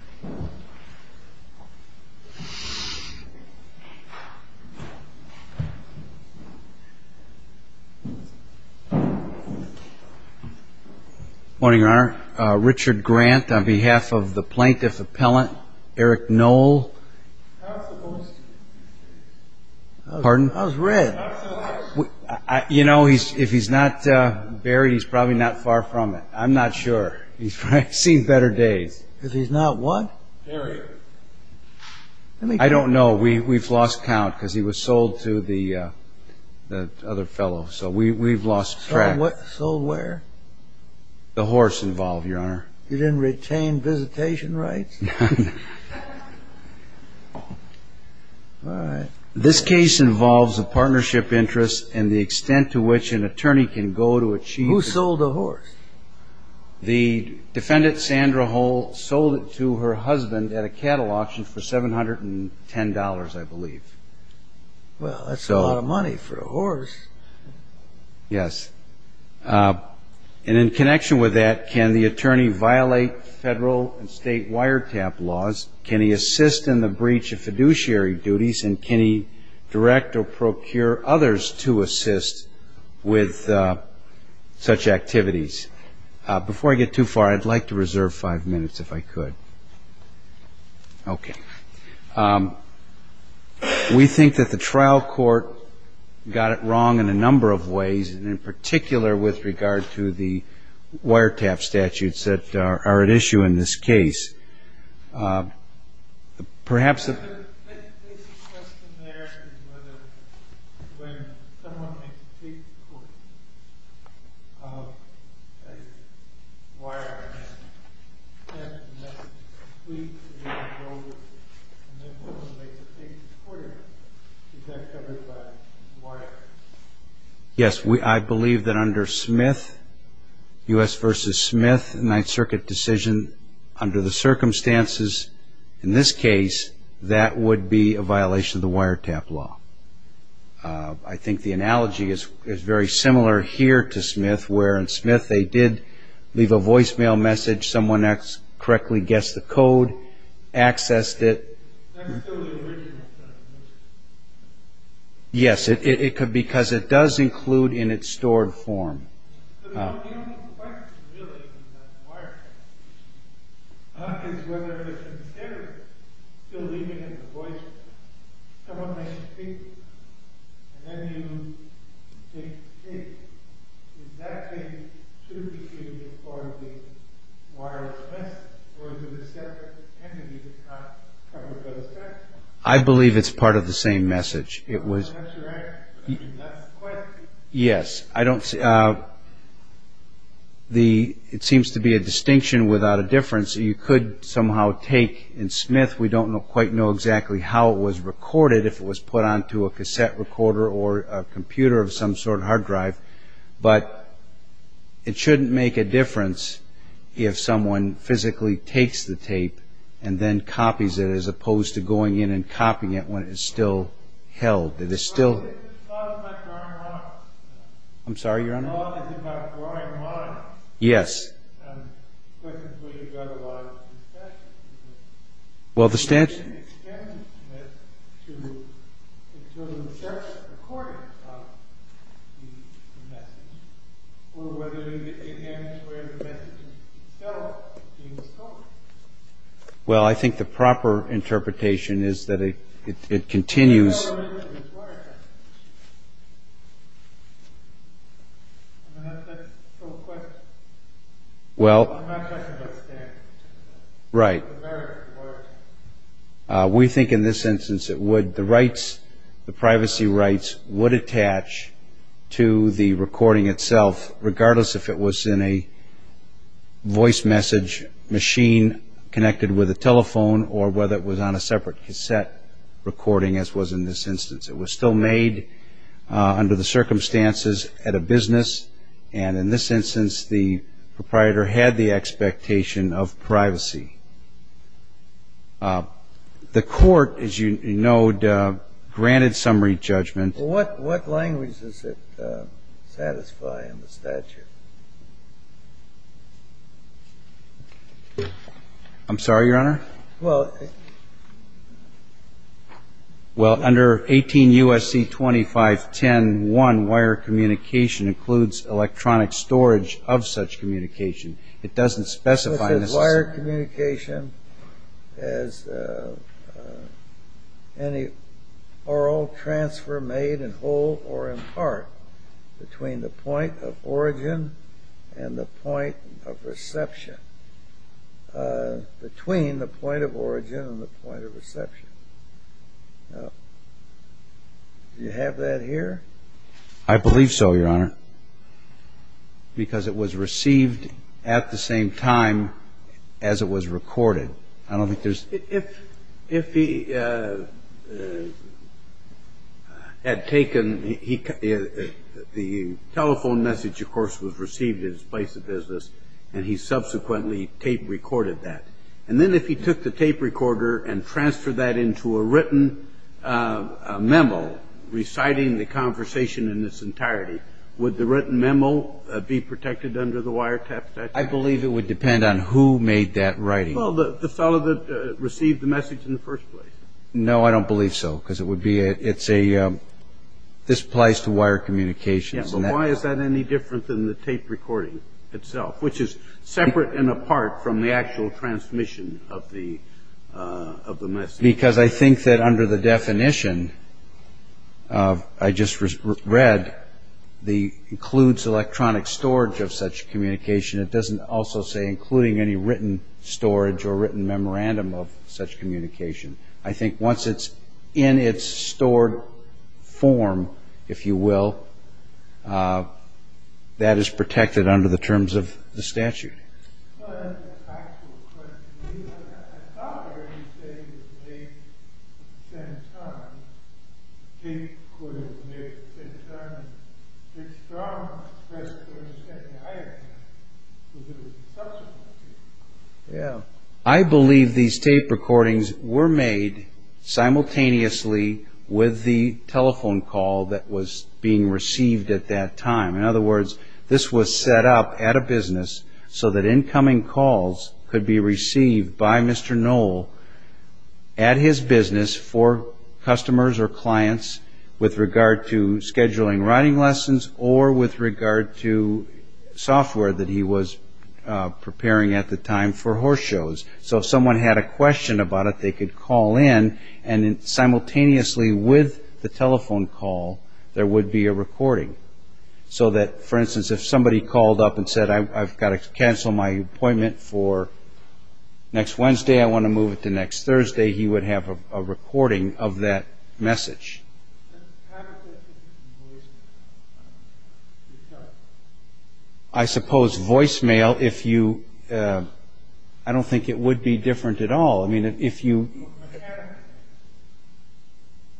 Good morning, Your Honor. Richard Grant on behalf of the Plaintiff Appellant, Eric Knoll. I was supposed to be here. Pardon? I was read. You know, if he's not buried, he's probably not far from it. I'm not sure. He's probably seen better days. Because he's not what? Buried. I don't know. We've lost count because he was sold to the other fellow. So we've lost track. Sold what? Sold where? The horse involved, Your Honor. He didn't retain visitation rights? This case involves a partnership interest and the extent to which an attorney can go to achieve. Who sold the horse? The defendant, Sandra Hall, sold it to her husband at a cattle auction for $710, I believe. Well, that's a lot of money for a horse. Yes. And in connection with that, can the attorney violate federal and state wiretap laws? Can he assist in the breach of fiduciary duties? And can he direct or procure others to assist with such activities? Before I get too far, I'd like to reserve five minutes if I could. Okay. We think that the trial court got it wrong in a number of ways, and in particular with regard to the wiretap statutes that are at issue in this case. Perhaps Yes, I believe that under Smith, U.S. v. Smith, the Ninth Circuit decision, under the circumstances in this case, that would be a violation of the wiretap law. I think the analogy is very similar here to Smith, where in Smith they did leave a voicemail message, someone correctly guessed the code, accessed it. That's still the original set of messages? Yes, it could be, because it does include in its stored form. I believe it's part of the same message. Yes, it seems to be a distinction without a difference. You could somehow take in Smith, we don't quite know exactly how it was recorded, if it was put onto a cassette recorder or a computer of some sort, a hard drive, but it shouldn't make a difference if someone physically takes the tape and then copies it, as opposed to going in and copying it when it is still held. I'm sorry, Your Honor? Yes. Well, the statute? Well, I think the it continues. Well, right. We think in this instance it would, the rights, the privacy rights would attach to the recording itself, regardless if it was in a voice message machine connected with a telephone or whether it was on a separate cassette recording, as was in this instance. It was still made under the circumstances at a business, and in this instance the proprietor had the expectation of privacy. The court, as you know, granted summary judgment. What language does it satisfy in the statute? I'm sorry, Your Honor? Well, under 18 U.S.C. 2510.1, wire communication includes electronic storage of such communication. It doesn't specify wire communication as any oral transfer made in whole or in part between the point of origin and the point of reception. Between the point of origin and the point of reception. Do you have that here? I believe so, Your Honor, because it was received at the same time as it was recorded. I don't think there's... If he had taken, the telephone message, of course, was received at his place of business, and he subsequently tape recorded that. And then if he took the tape recorder and transferred that into a written memo reciting the conversation in its entirety, would the written memo be protected under the wiretap statute? I believe it would depend on who made that writing. Well, the fellow that received the message in the first place. No, I don't believe so, because it would be, it's a, this applies to wire communication. Yeah, but why is that any different than the tape recording itself, which is separate and apart from the of the message? Because I think that under the definition, I just read, the includes electronic storage of such communication. It doesn't also say including any written storage or written memorandum of such communication. I think once it's in its stored form, if you will, that is Yeah, I believe these tape recordings were made simultaneously with the telephone call that was being received at that time. In other words, this was set up at a business so that incoming calls could be received by Mr. Knoll at his business for customers or clients with regard to scheduling writing lessons or with regard to software that he was preparing at the time for horse shows. So if someone had a question about it, they could call in and simultaneously with the telephone call, there would be a recording. So that, for instance, if somebody called up and said, I've got to appointment for next Wednesday, I want to move it to next Thursday, he would have a recording of that message. I suppose voicemail, if you, I don't think it would be different at all. I mean, if you,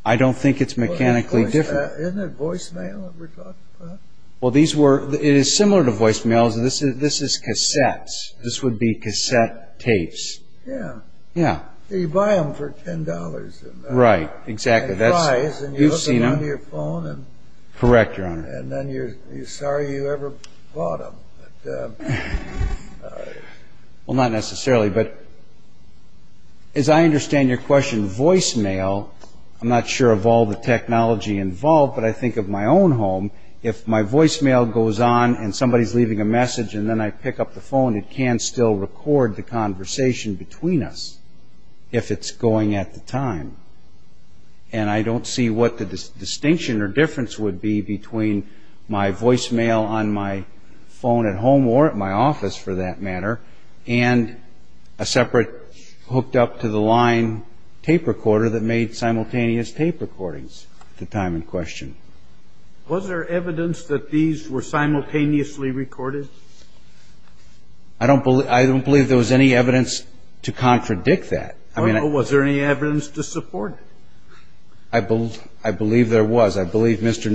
I don't think it's mechanically different. Isn't it voicemail? Well, these were, it is similar to voicemail. This is cassettes. This would be cassette tapes. Yeah. Yeah. You buy them for $10. Right. Exactly. You've seen them. Correct, Your Honor. And then you're sorry you ever bought them. Well, not necessarily. But as I understand your question, voicemail, I'm not sure of all the leaving a message and then I pick up the phone, it can still record the conversation between us if it's going at the time. And I don't see what the distinction or difference would be between my voicemail on my phone at home or at my office, for that matter, and a separate hooked up to the line tape recorder that made simultaneous tape recordings at the time in question. Was there evidence that these were simultaneously recorded? I don't believe there was any evidence to contradict that. I mean, was there any evidence to support it? I believe there was. I believe Mr.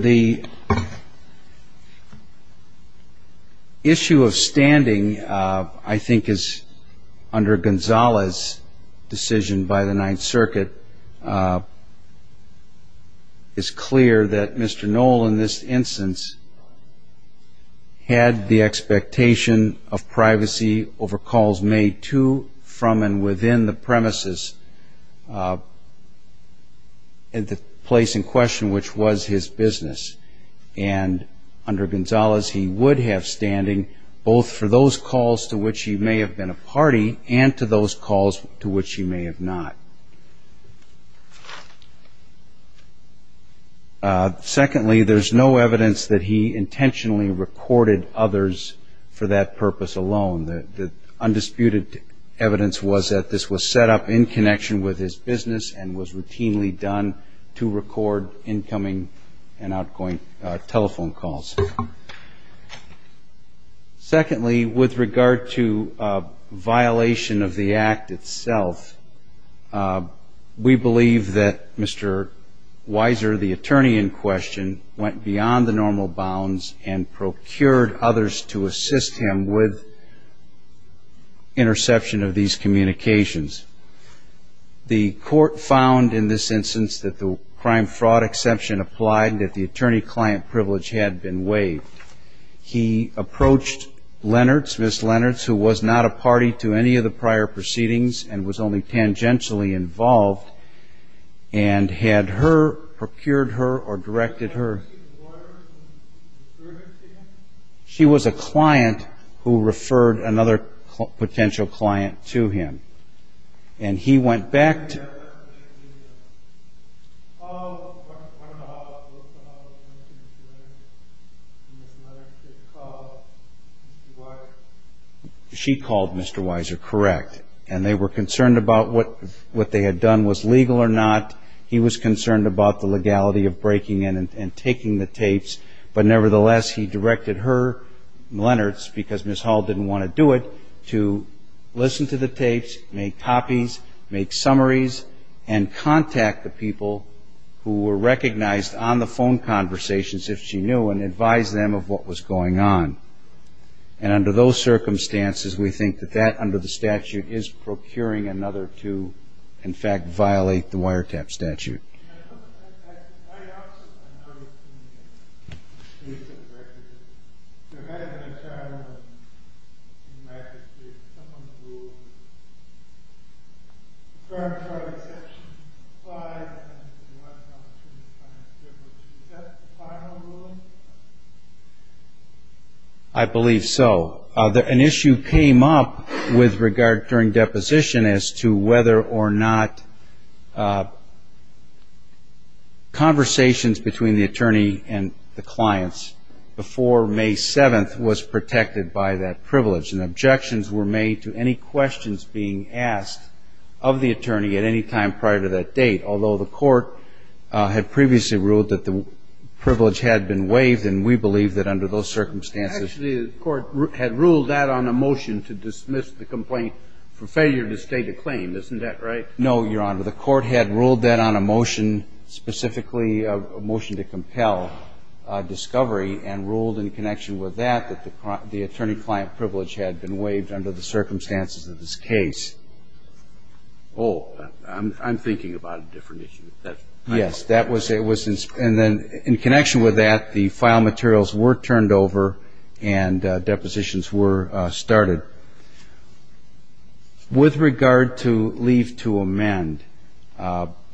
The issue of standing, I think, is under Gonzales decision by the Ninth Circuit. It's clear that Mr. The expectation of privacy over calls made to, from, and within the premises at the place in question, which was his business. And under Gonzales, he would have standing both for those calls to which he may have been a party and to those calls to which he may have not. Secondly, there's no evidence that he for that purpose alone. The undisputed evidence was that this was set up in connection with his business and was routinely done to record incoming and outgoing telephone calls. Secondly, with regard to violation of the act itself, we believe that Mr. Weiser, the attorney in question, went beyond the normal bounds and to assist him with interception of these communications. The court found in this instance that the crime-fraud exception applied, that the attorney-client privilege had been waived. He approached Lennertz, Ms. Lennertz, who was not a party to any of the prior proceedings and was only tangentially involved, and had her, procured her, or a client who referred another potential client to him. And he went back to... She called Mr. Weiser, correct. And they were concerned about what they had done was legal or not. He was concerned about the legality of breaking in and taking the tapes. But nevertheless, he directed her, Lennertz, because Ms. Hall didn't want to do it, to listen to the tapes, make copies, make summaries, and contact the people who were recognized on the phone conversations, if she knew, and advise them of what was going on. And under those circumstances, the court found in this instance that the crime-fraud exception applied, that the attorney-client privilege had been waived. I believe so. An issue came up with regard to, during deposition, as to whether or not conversations between the attorney and the clients before May 7th was protected by that privilege. And objections were made to any questions being asked of the attorney at any time prior to that date, although the court had previously ruled that the privilege had been waived, and we believe that under those circumstances... Actually, the court had ruled that on a motion to dismiss the complaint for failure to state a claim. Isn't that right? No, Your Honor. The court had ruled that on a motion, specifically a motion to compel discovery, and ruled in connection with that that the attorney-client privilege had been waived under the circumstances of this case. Oh, I'm thinking about a different issue. Yes, that was, and then in connection with that, the file materials were turned over and depositions were started. With regard to leave to amend,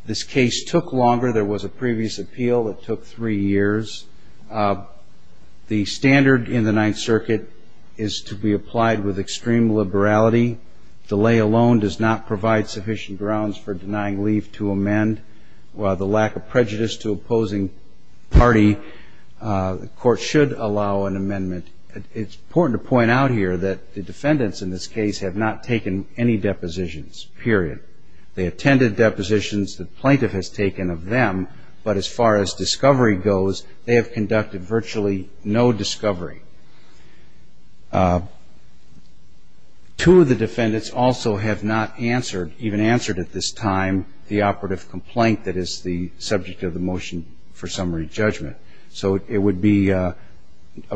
this case took longer. There was a previous appeal that took three years. The standard in the Ninth Circuit is to be applied with extreme liberality. Delay alone does not provide sufficient grounds for denying leave to amend. While the lack of prejudice to opposing party, the court should allow an amendment. It's important to point out here that the defendants in this case have not taken any depositions, period. They attended depositions. The plaintiff has taken of them, but as far as discovery goes, they have conducted virtually no discovery. Two of the defendants also have not answered, even answered at this time, the operative complaint that is the subject of the motion for summary judgment. So it would be of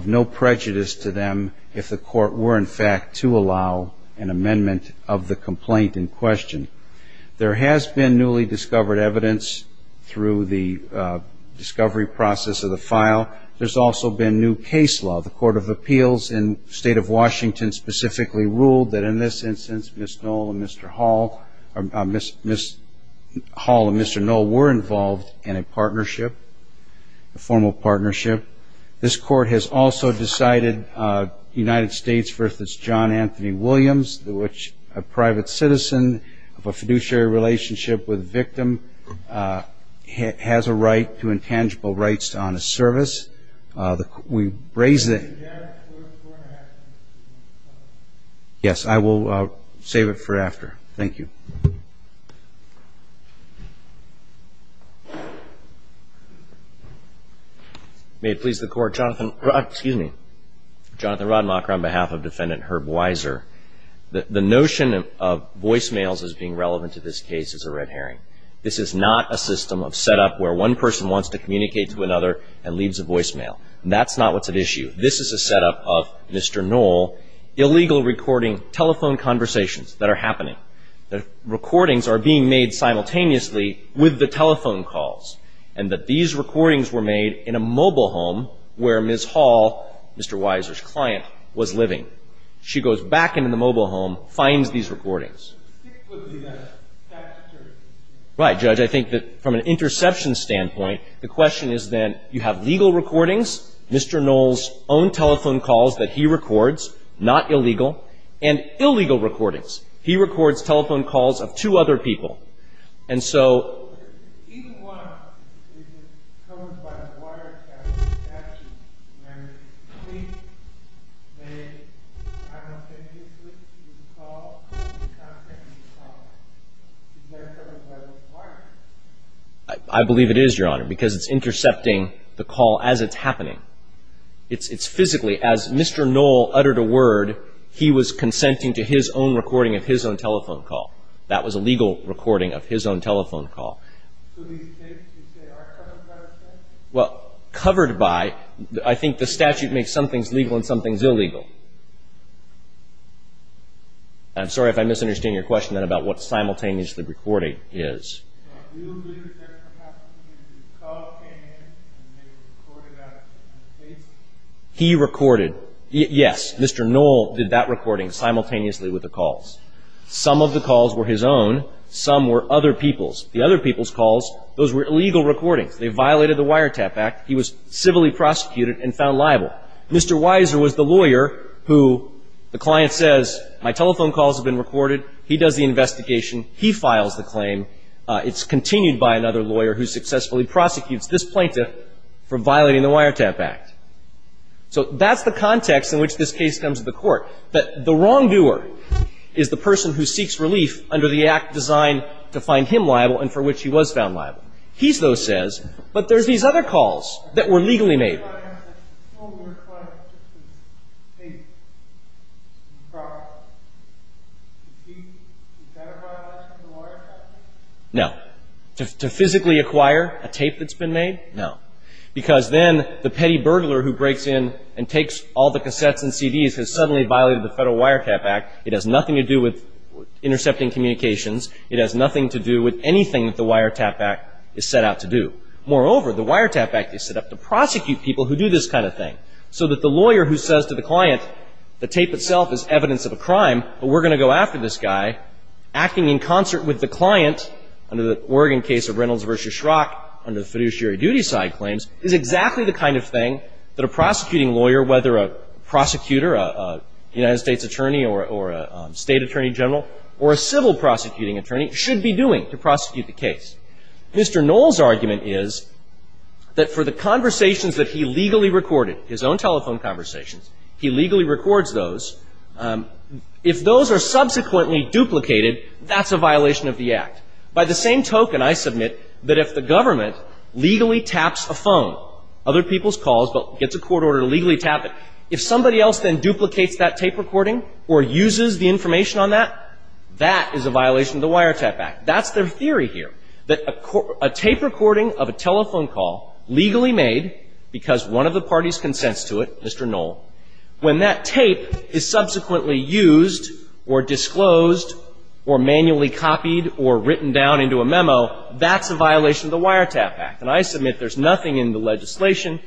no prejudice to them if the court were, in fact, to allow an amendment of the complaint in question. There has been newly discovered evidence through the discovery process of the file. There's also been new case law. The Court of Appeals in the State of Washington specifically ruled that in this instance, Ms. Knoll and Mr. Hall, Ms. Hall and Mr. Knoll were involved in a partnership, a formal partnership. This court has also decided, United States v. John Anthony Williams, which a private citizen of a fiduciary relationship with a victim has a right to intangible rights to honest service. We raise the question. Yes, I will save it for after. Thank you. May it please the Court. Jonathan Rodmacher on behalf of Defendant Herb Weiser. The notion of voicemails as being relevant to this case is a red herring. This is not a system of setup where one person wants to communicate to another and leaves a voicemail. That's not what's at issue. This is a setup of, Mr. Knoll, illegal recording telephone conversations that are happening. The recordings are being made simultaneously with the telephone calls and that these recordings were made in a mobile home where Ms. Hall, Mr. Weiser's client, was living. She goes back into the mobile home, finds these Right, Judge. I think that from an interception standpoint, the question is then, you have legal recordings, Mr. Knoll's own telephone calls that he records, not illegal, and illegal recordings. He records telephone calls of two other people. And so I believe it is, Your Honor, because it's intercepting the call as it's happening. It's physically, as Mr. Knoll uttered a word, he was consenting to his own recording of his own telephone call. That was a legal recording of his own telephone call. So these tapes, you say, are covered by the statute? Well, covered by, I think the statute makes some things legal and some things illegal. I'm sorry if I misunderstand your question then about what simultaneously recording is. Do you believe that there perhaps was a call that came in and they recorded that on the tapes? He recorded. Yes. Mr. Knoll did that recording simultaneously with the calls. Some of the calls were his own. Some were other people's. The other people's calls, those were illegal recordings. They violated the Wiretap Act. He was civilly prosecuted and found liable. Mr. Weiser was the lawyer who the client says, my telephone calls have been recorded. He does the investigation. He files the claim. It's continued by another So that's the context in which this case comes to the court, that the wrongdoer is the person who seeks relief under the act designed to find him liable and for which he was found liable. He, though, says, but there's these other calls that were legally made. So the client says, oh, we're acquiring a tape from the property. Is that a violation of the Wiretap Act? No. To physically acquire a tape that's been made? No. Because then the petty burglar who breaks in and takes all the cassettes and CDs has suddenly violated the Federal Wiretap Act. It has nothing to do with intercepting communications. It has nothing to do with anything that the Wiretap Act is set out to do. Moreover, the Wiretap Act is set up to prosecute people who do this kind of thing. So that the lawyer who says to the client, the tape itself is evidence of a crime, but we're going to go after this guy, acting in concert with the client, under the Oregon case of Reynolds v. Schrock, under the fiduciary duty side claims, is exactly the kind of thing that a prosecuting lawyer, whether a prosecutor, a United States attorney or a State Attorney General, or a civil prosecuting attorney, should be doing to prosecute the case. Mr. Knoll's argument is that for the conversations that he legally recorded, his own telephone conversations, he legally records those. If those are subsequently duplicated, that's a violation of the Act. By the same token, I submit that if the government legally taps a phone, other people's calls, but gets a court order to legally tap it, if somebody else then duplicates that tape recording or uses the information on that, that is a violation of the Wiretap Act. That's their theory here, that a tape recording of a telephone call legally made because one of the parties consents to it, Mr. Knoll, when that tape is subsequently used or disclosed or manually copied or written down into a memo, that's a violation of the Wiretap Act. And I submit there's nothing in the legislation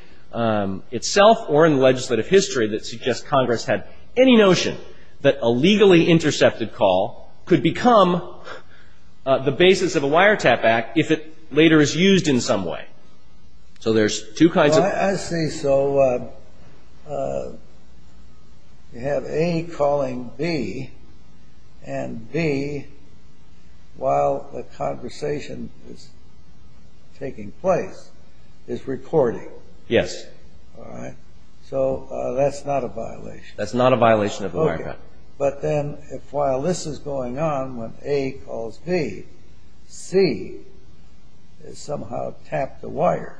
itself or in the legislative history that suggests Congress had any notion that a legally intercepted telephone call could become the basis of a Wiretap Act if it later is used in some way. So there's two kinds of... Well, I see. So you have A calling B, and B, while the conversation is taking place, is recording. Yes. All right. So that's not a violation. That's not a violation of the Wiretap Act. But then if while this is going on, when A calls B, C somehow tapped the wire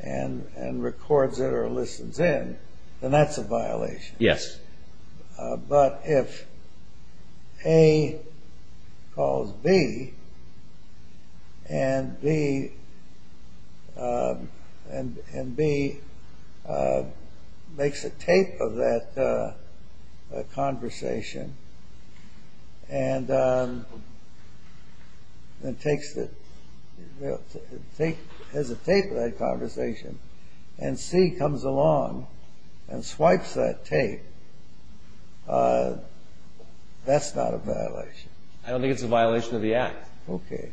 and records it or listens in, then that's a violation. Yes. But if A calls B, and B makes a tape of that conversation, and then takes the... has a tape of that conversation, and C comes along and That's not a violation. I don't think it's a violation of the Act. Okay.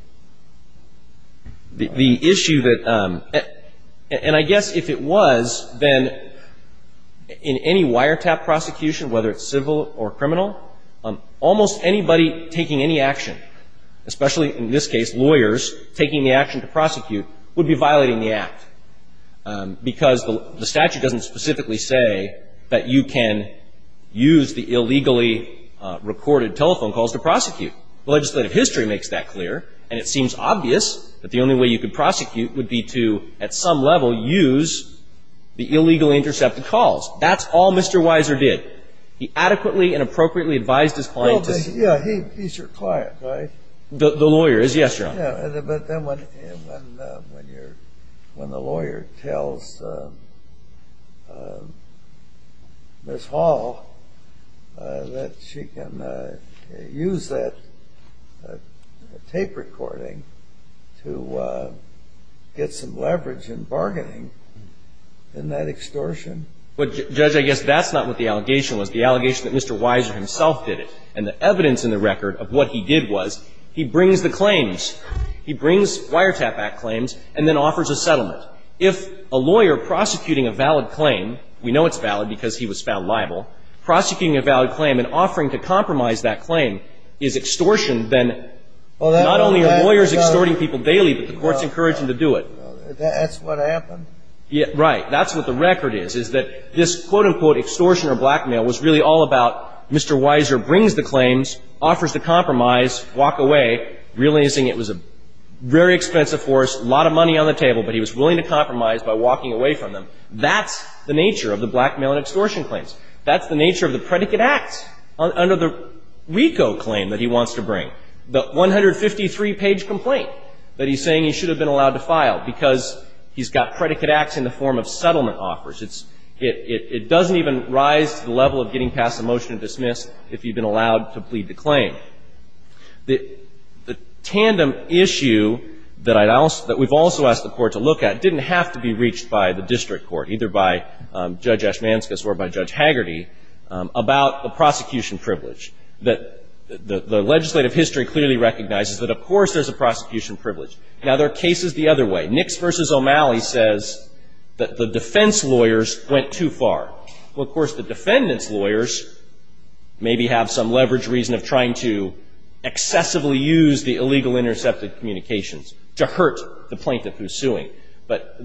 The issue that – and I guess if it was, then in any wiretap prosecution, whether it's civil or criminal, almost anybody taking any action, especially in this case lawyers, taking the action to prosecute, would be violating the Act because the statute doesn't specifically say that you can use the illegally recorded telephone calls to prosecute. Legislative history makes that clear, and it seems obvious that the only way you could prosecute would be to, at some level, use the illegally intercepted calls. That's all Mr. Weiser did. He adequately and appropriately advised his client to... Well, yeah, he's your client, right? The lawyer is, yes, Your Honor. Yeah, but then when the lawyer tells Ms. Hall that she can use that tape recording to get some leverage in bargaining, isn't that extortion? But, Judge, I guess that's not what the allegation was. The allegation that Mr. Weiser himself did it, and the evidence in the record of what he did was he brings the claims. He brings wiretap Act claims and then offers a settlement. If a lawyer prosecuting a valid claim – we know it's valid because he was found liable – prosecuting a valid claim and offering to compromise that claim is extortion, then not only are lawyers extorting people daily, but the court's encouraging them to do it. That's what happened? Right. That's what the record is, is that this, quote-unquote, extortion or blackmail was really all about Mr. Weiser brings the claims, offers to compromise, walk away, realizing it was a very expensive force, a lot of money on the table, but he was willing to compromise by walking away from them. That's the nature of the blackmail and extortion claims. That's the nature of the predicate Act under the RICO claim that he wants to bring, the 153-page complaint that he's saying he should have been allowed to file because he's got predicate Acts in the form of settlement offers. It's – it doesn't even rise to the level of getting past a motion to dismiss if you've been allowed to plead the claim. The tandem issue that I'd – that we've also asked the Court to look at didn't have to be reached by the district court, either by Judge Ashmanskas or by Judge Hagerty, about the prosecution privilege. The legislative history clearly recognizes that, of course, there's a prosecution privilege. Now, there are cases the other way. Nix v. O'Malley says that the defense lawyers went too far. Well, of course, the defendant's lawyers maybe have some leverage reason of trying to excessively use the illegal intercepted communications to hurt the plaintiff who's suing. But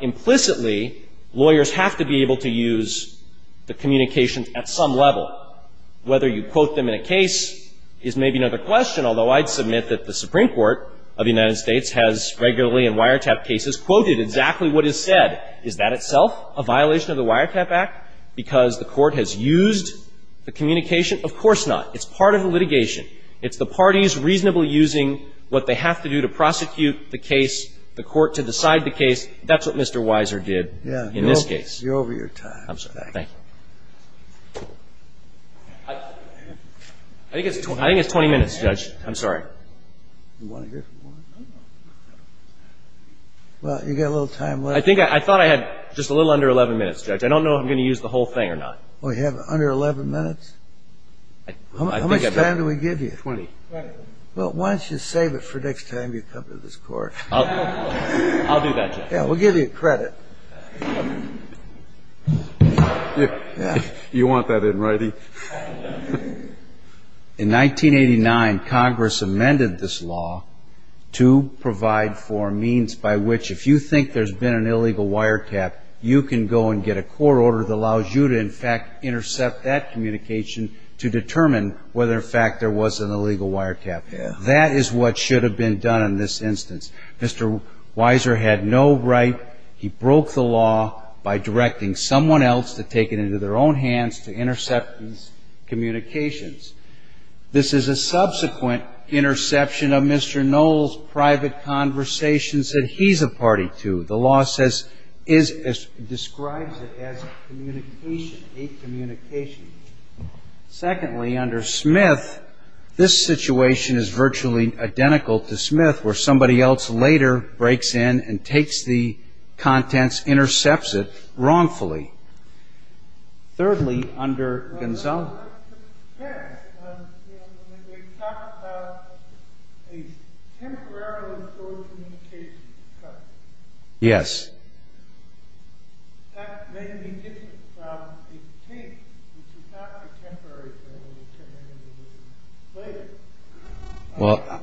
implicitly, lawyers have to be able to use the communications at some level, whether you quote them in a case is maybe another question, although I'd submit that the Supreme Court of the United States has regularly, in wiretap cases, quoted exactly what is said. Is that itself a violation of the Wiretap Act because the Court has used the communication? Of course not. It's part of the litigation. It's the parties reasonably using what they have to do to prosecute the case, the Court, to decide the case. That's what Mr. Weiser did in this case. You're over your time. I'm sorry. Thank you. I think it's 20 minutes, Judge. I'm sorry. Well, you've got a little time left. I think I thought I had just a little under 11 minutes, Judge. I don't know if I'm going to use the whole thing or not. Well, you have under 11 minutes? How much time do we give you? 20. Well, why don't you save it for next time you come to this Court? I'll do that, Judge. Yeah, we'll give you credit. You want that in writing? In 1989, Congress amended this law to provide for means by which if you think there's been an illegal wiretap, you can go and get a court order that allows you to, in fact, intercept that communication to determine whether, in fact, there was an illegal wiretap. That is what should have been done in this instance. Mr. Weiser had no right. He broke the law by directing someone else to take it into their own hands to intercept these communications. This is a subsequent interception of Mr. Knoll's private conversations that he's a party to. The law says, describes it as communication, a communication. Secondly, under Smith, this situation is virtually identical to Smith, where somebody else later breaks in and takes the contents, intercepts it wrongfully. Thirdly, under Gonzalo. Yes. Yes. Well.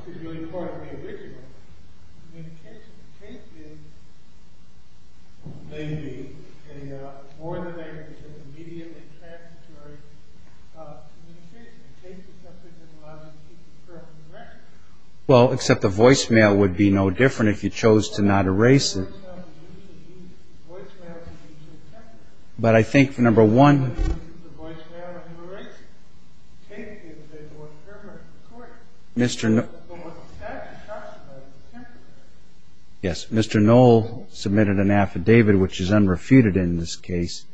Well, except the voicemail would be no different if you chose to not erase it. But I think, number one, Mr. Knoll submitted an affidavit, which is unrefuted in this case,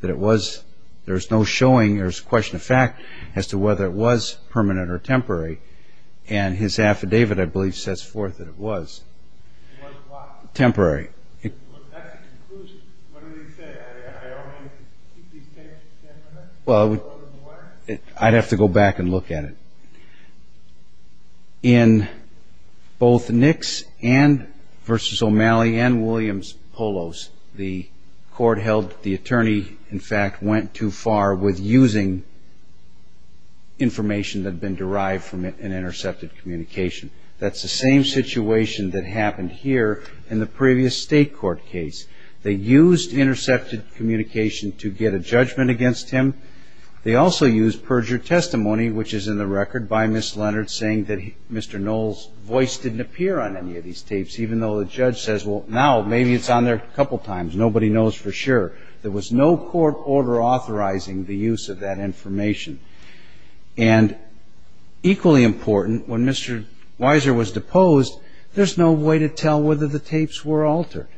that it was, there's no showing, there's a question of fact as to whether it was permanent or temporary. And his affidavit, I believe, sets forth that it was. Was what? Temporary. Well, that's the conclusion. What did he say? I only need to keep these tapes temporary? Well, I'd have to go back and look at it. In both Nix and versus O'Malley and Williams-Polos, the court held the attorney, in fact, went too far with using information that had been derived from an intercepted communication. That's the same situation that happened here in the previous state court case. They used intercepted communication to get a judgment against him. They also used perjured testimony, which is in the record by Ms. Leonard, saying that Mr. Knoll's voice didn't appear on any of these tapes, even though the judge says, well, now, maybe it's on there a couple times. Nobody knows for sure. There was no court order authorizing the use of that information. And equally important, when Mr. Weiser was deposed, there's no way to tell whether the tapes were altered.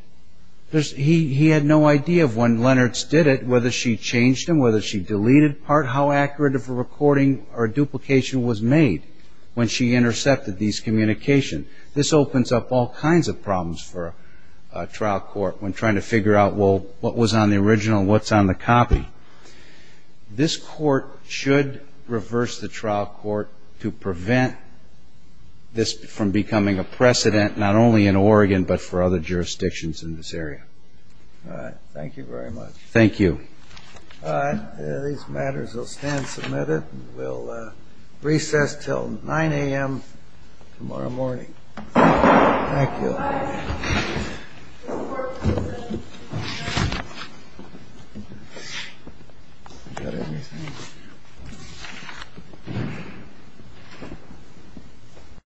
He had no idea of when Leonard's did it, whether she changed them, whether she deleted part, how accurate of a recording or duplication was made when she intercepted these communications. This opens up all kinds of problems for a trial court when trying to figure out, well, what was on the original and what's on the copy. This court should reverse the trial court to prevent this from becoming a precedent, not only in Oregon but for other jurisdictions in this area. All right. Thank you very much. Thank you. All right. These matters will stand submitted. We'll recess until 9 a.m. tomorrow morning. Thank you.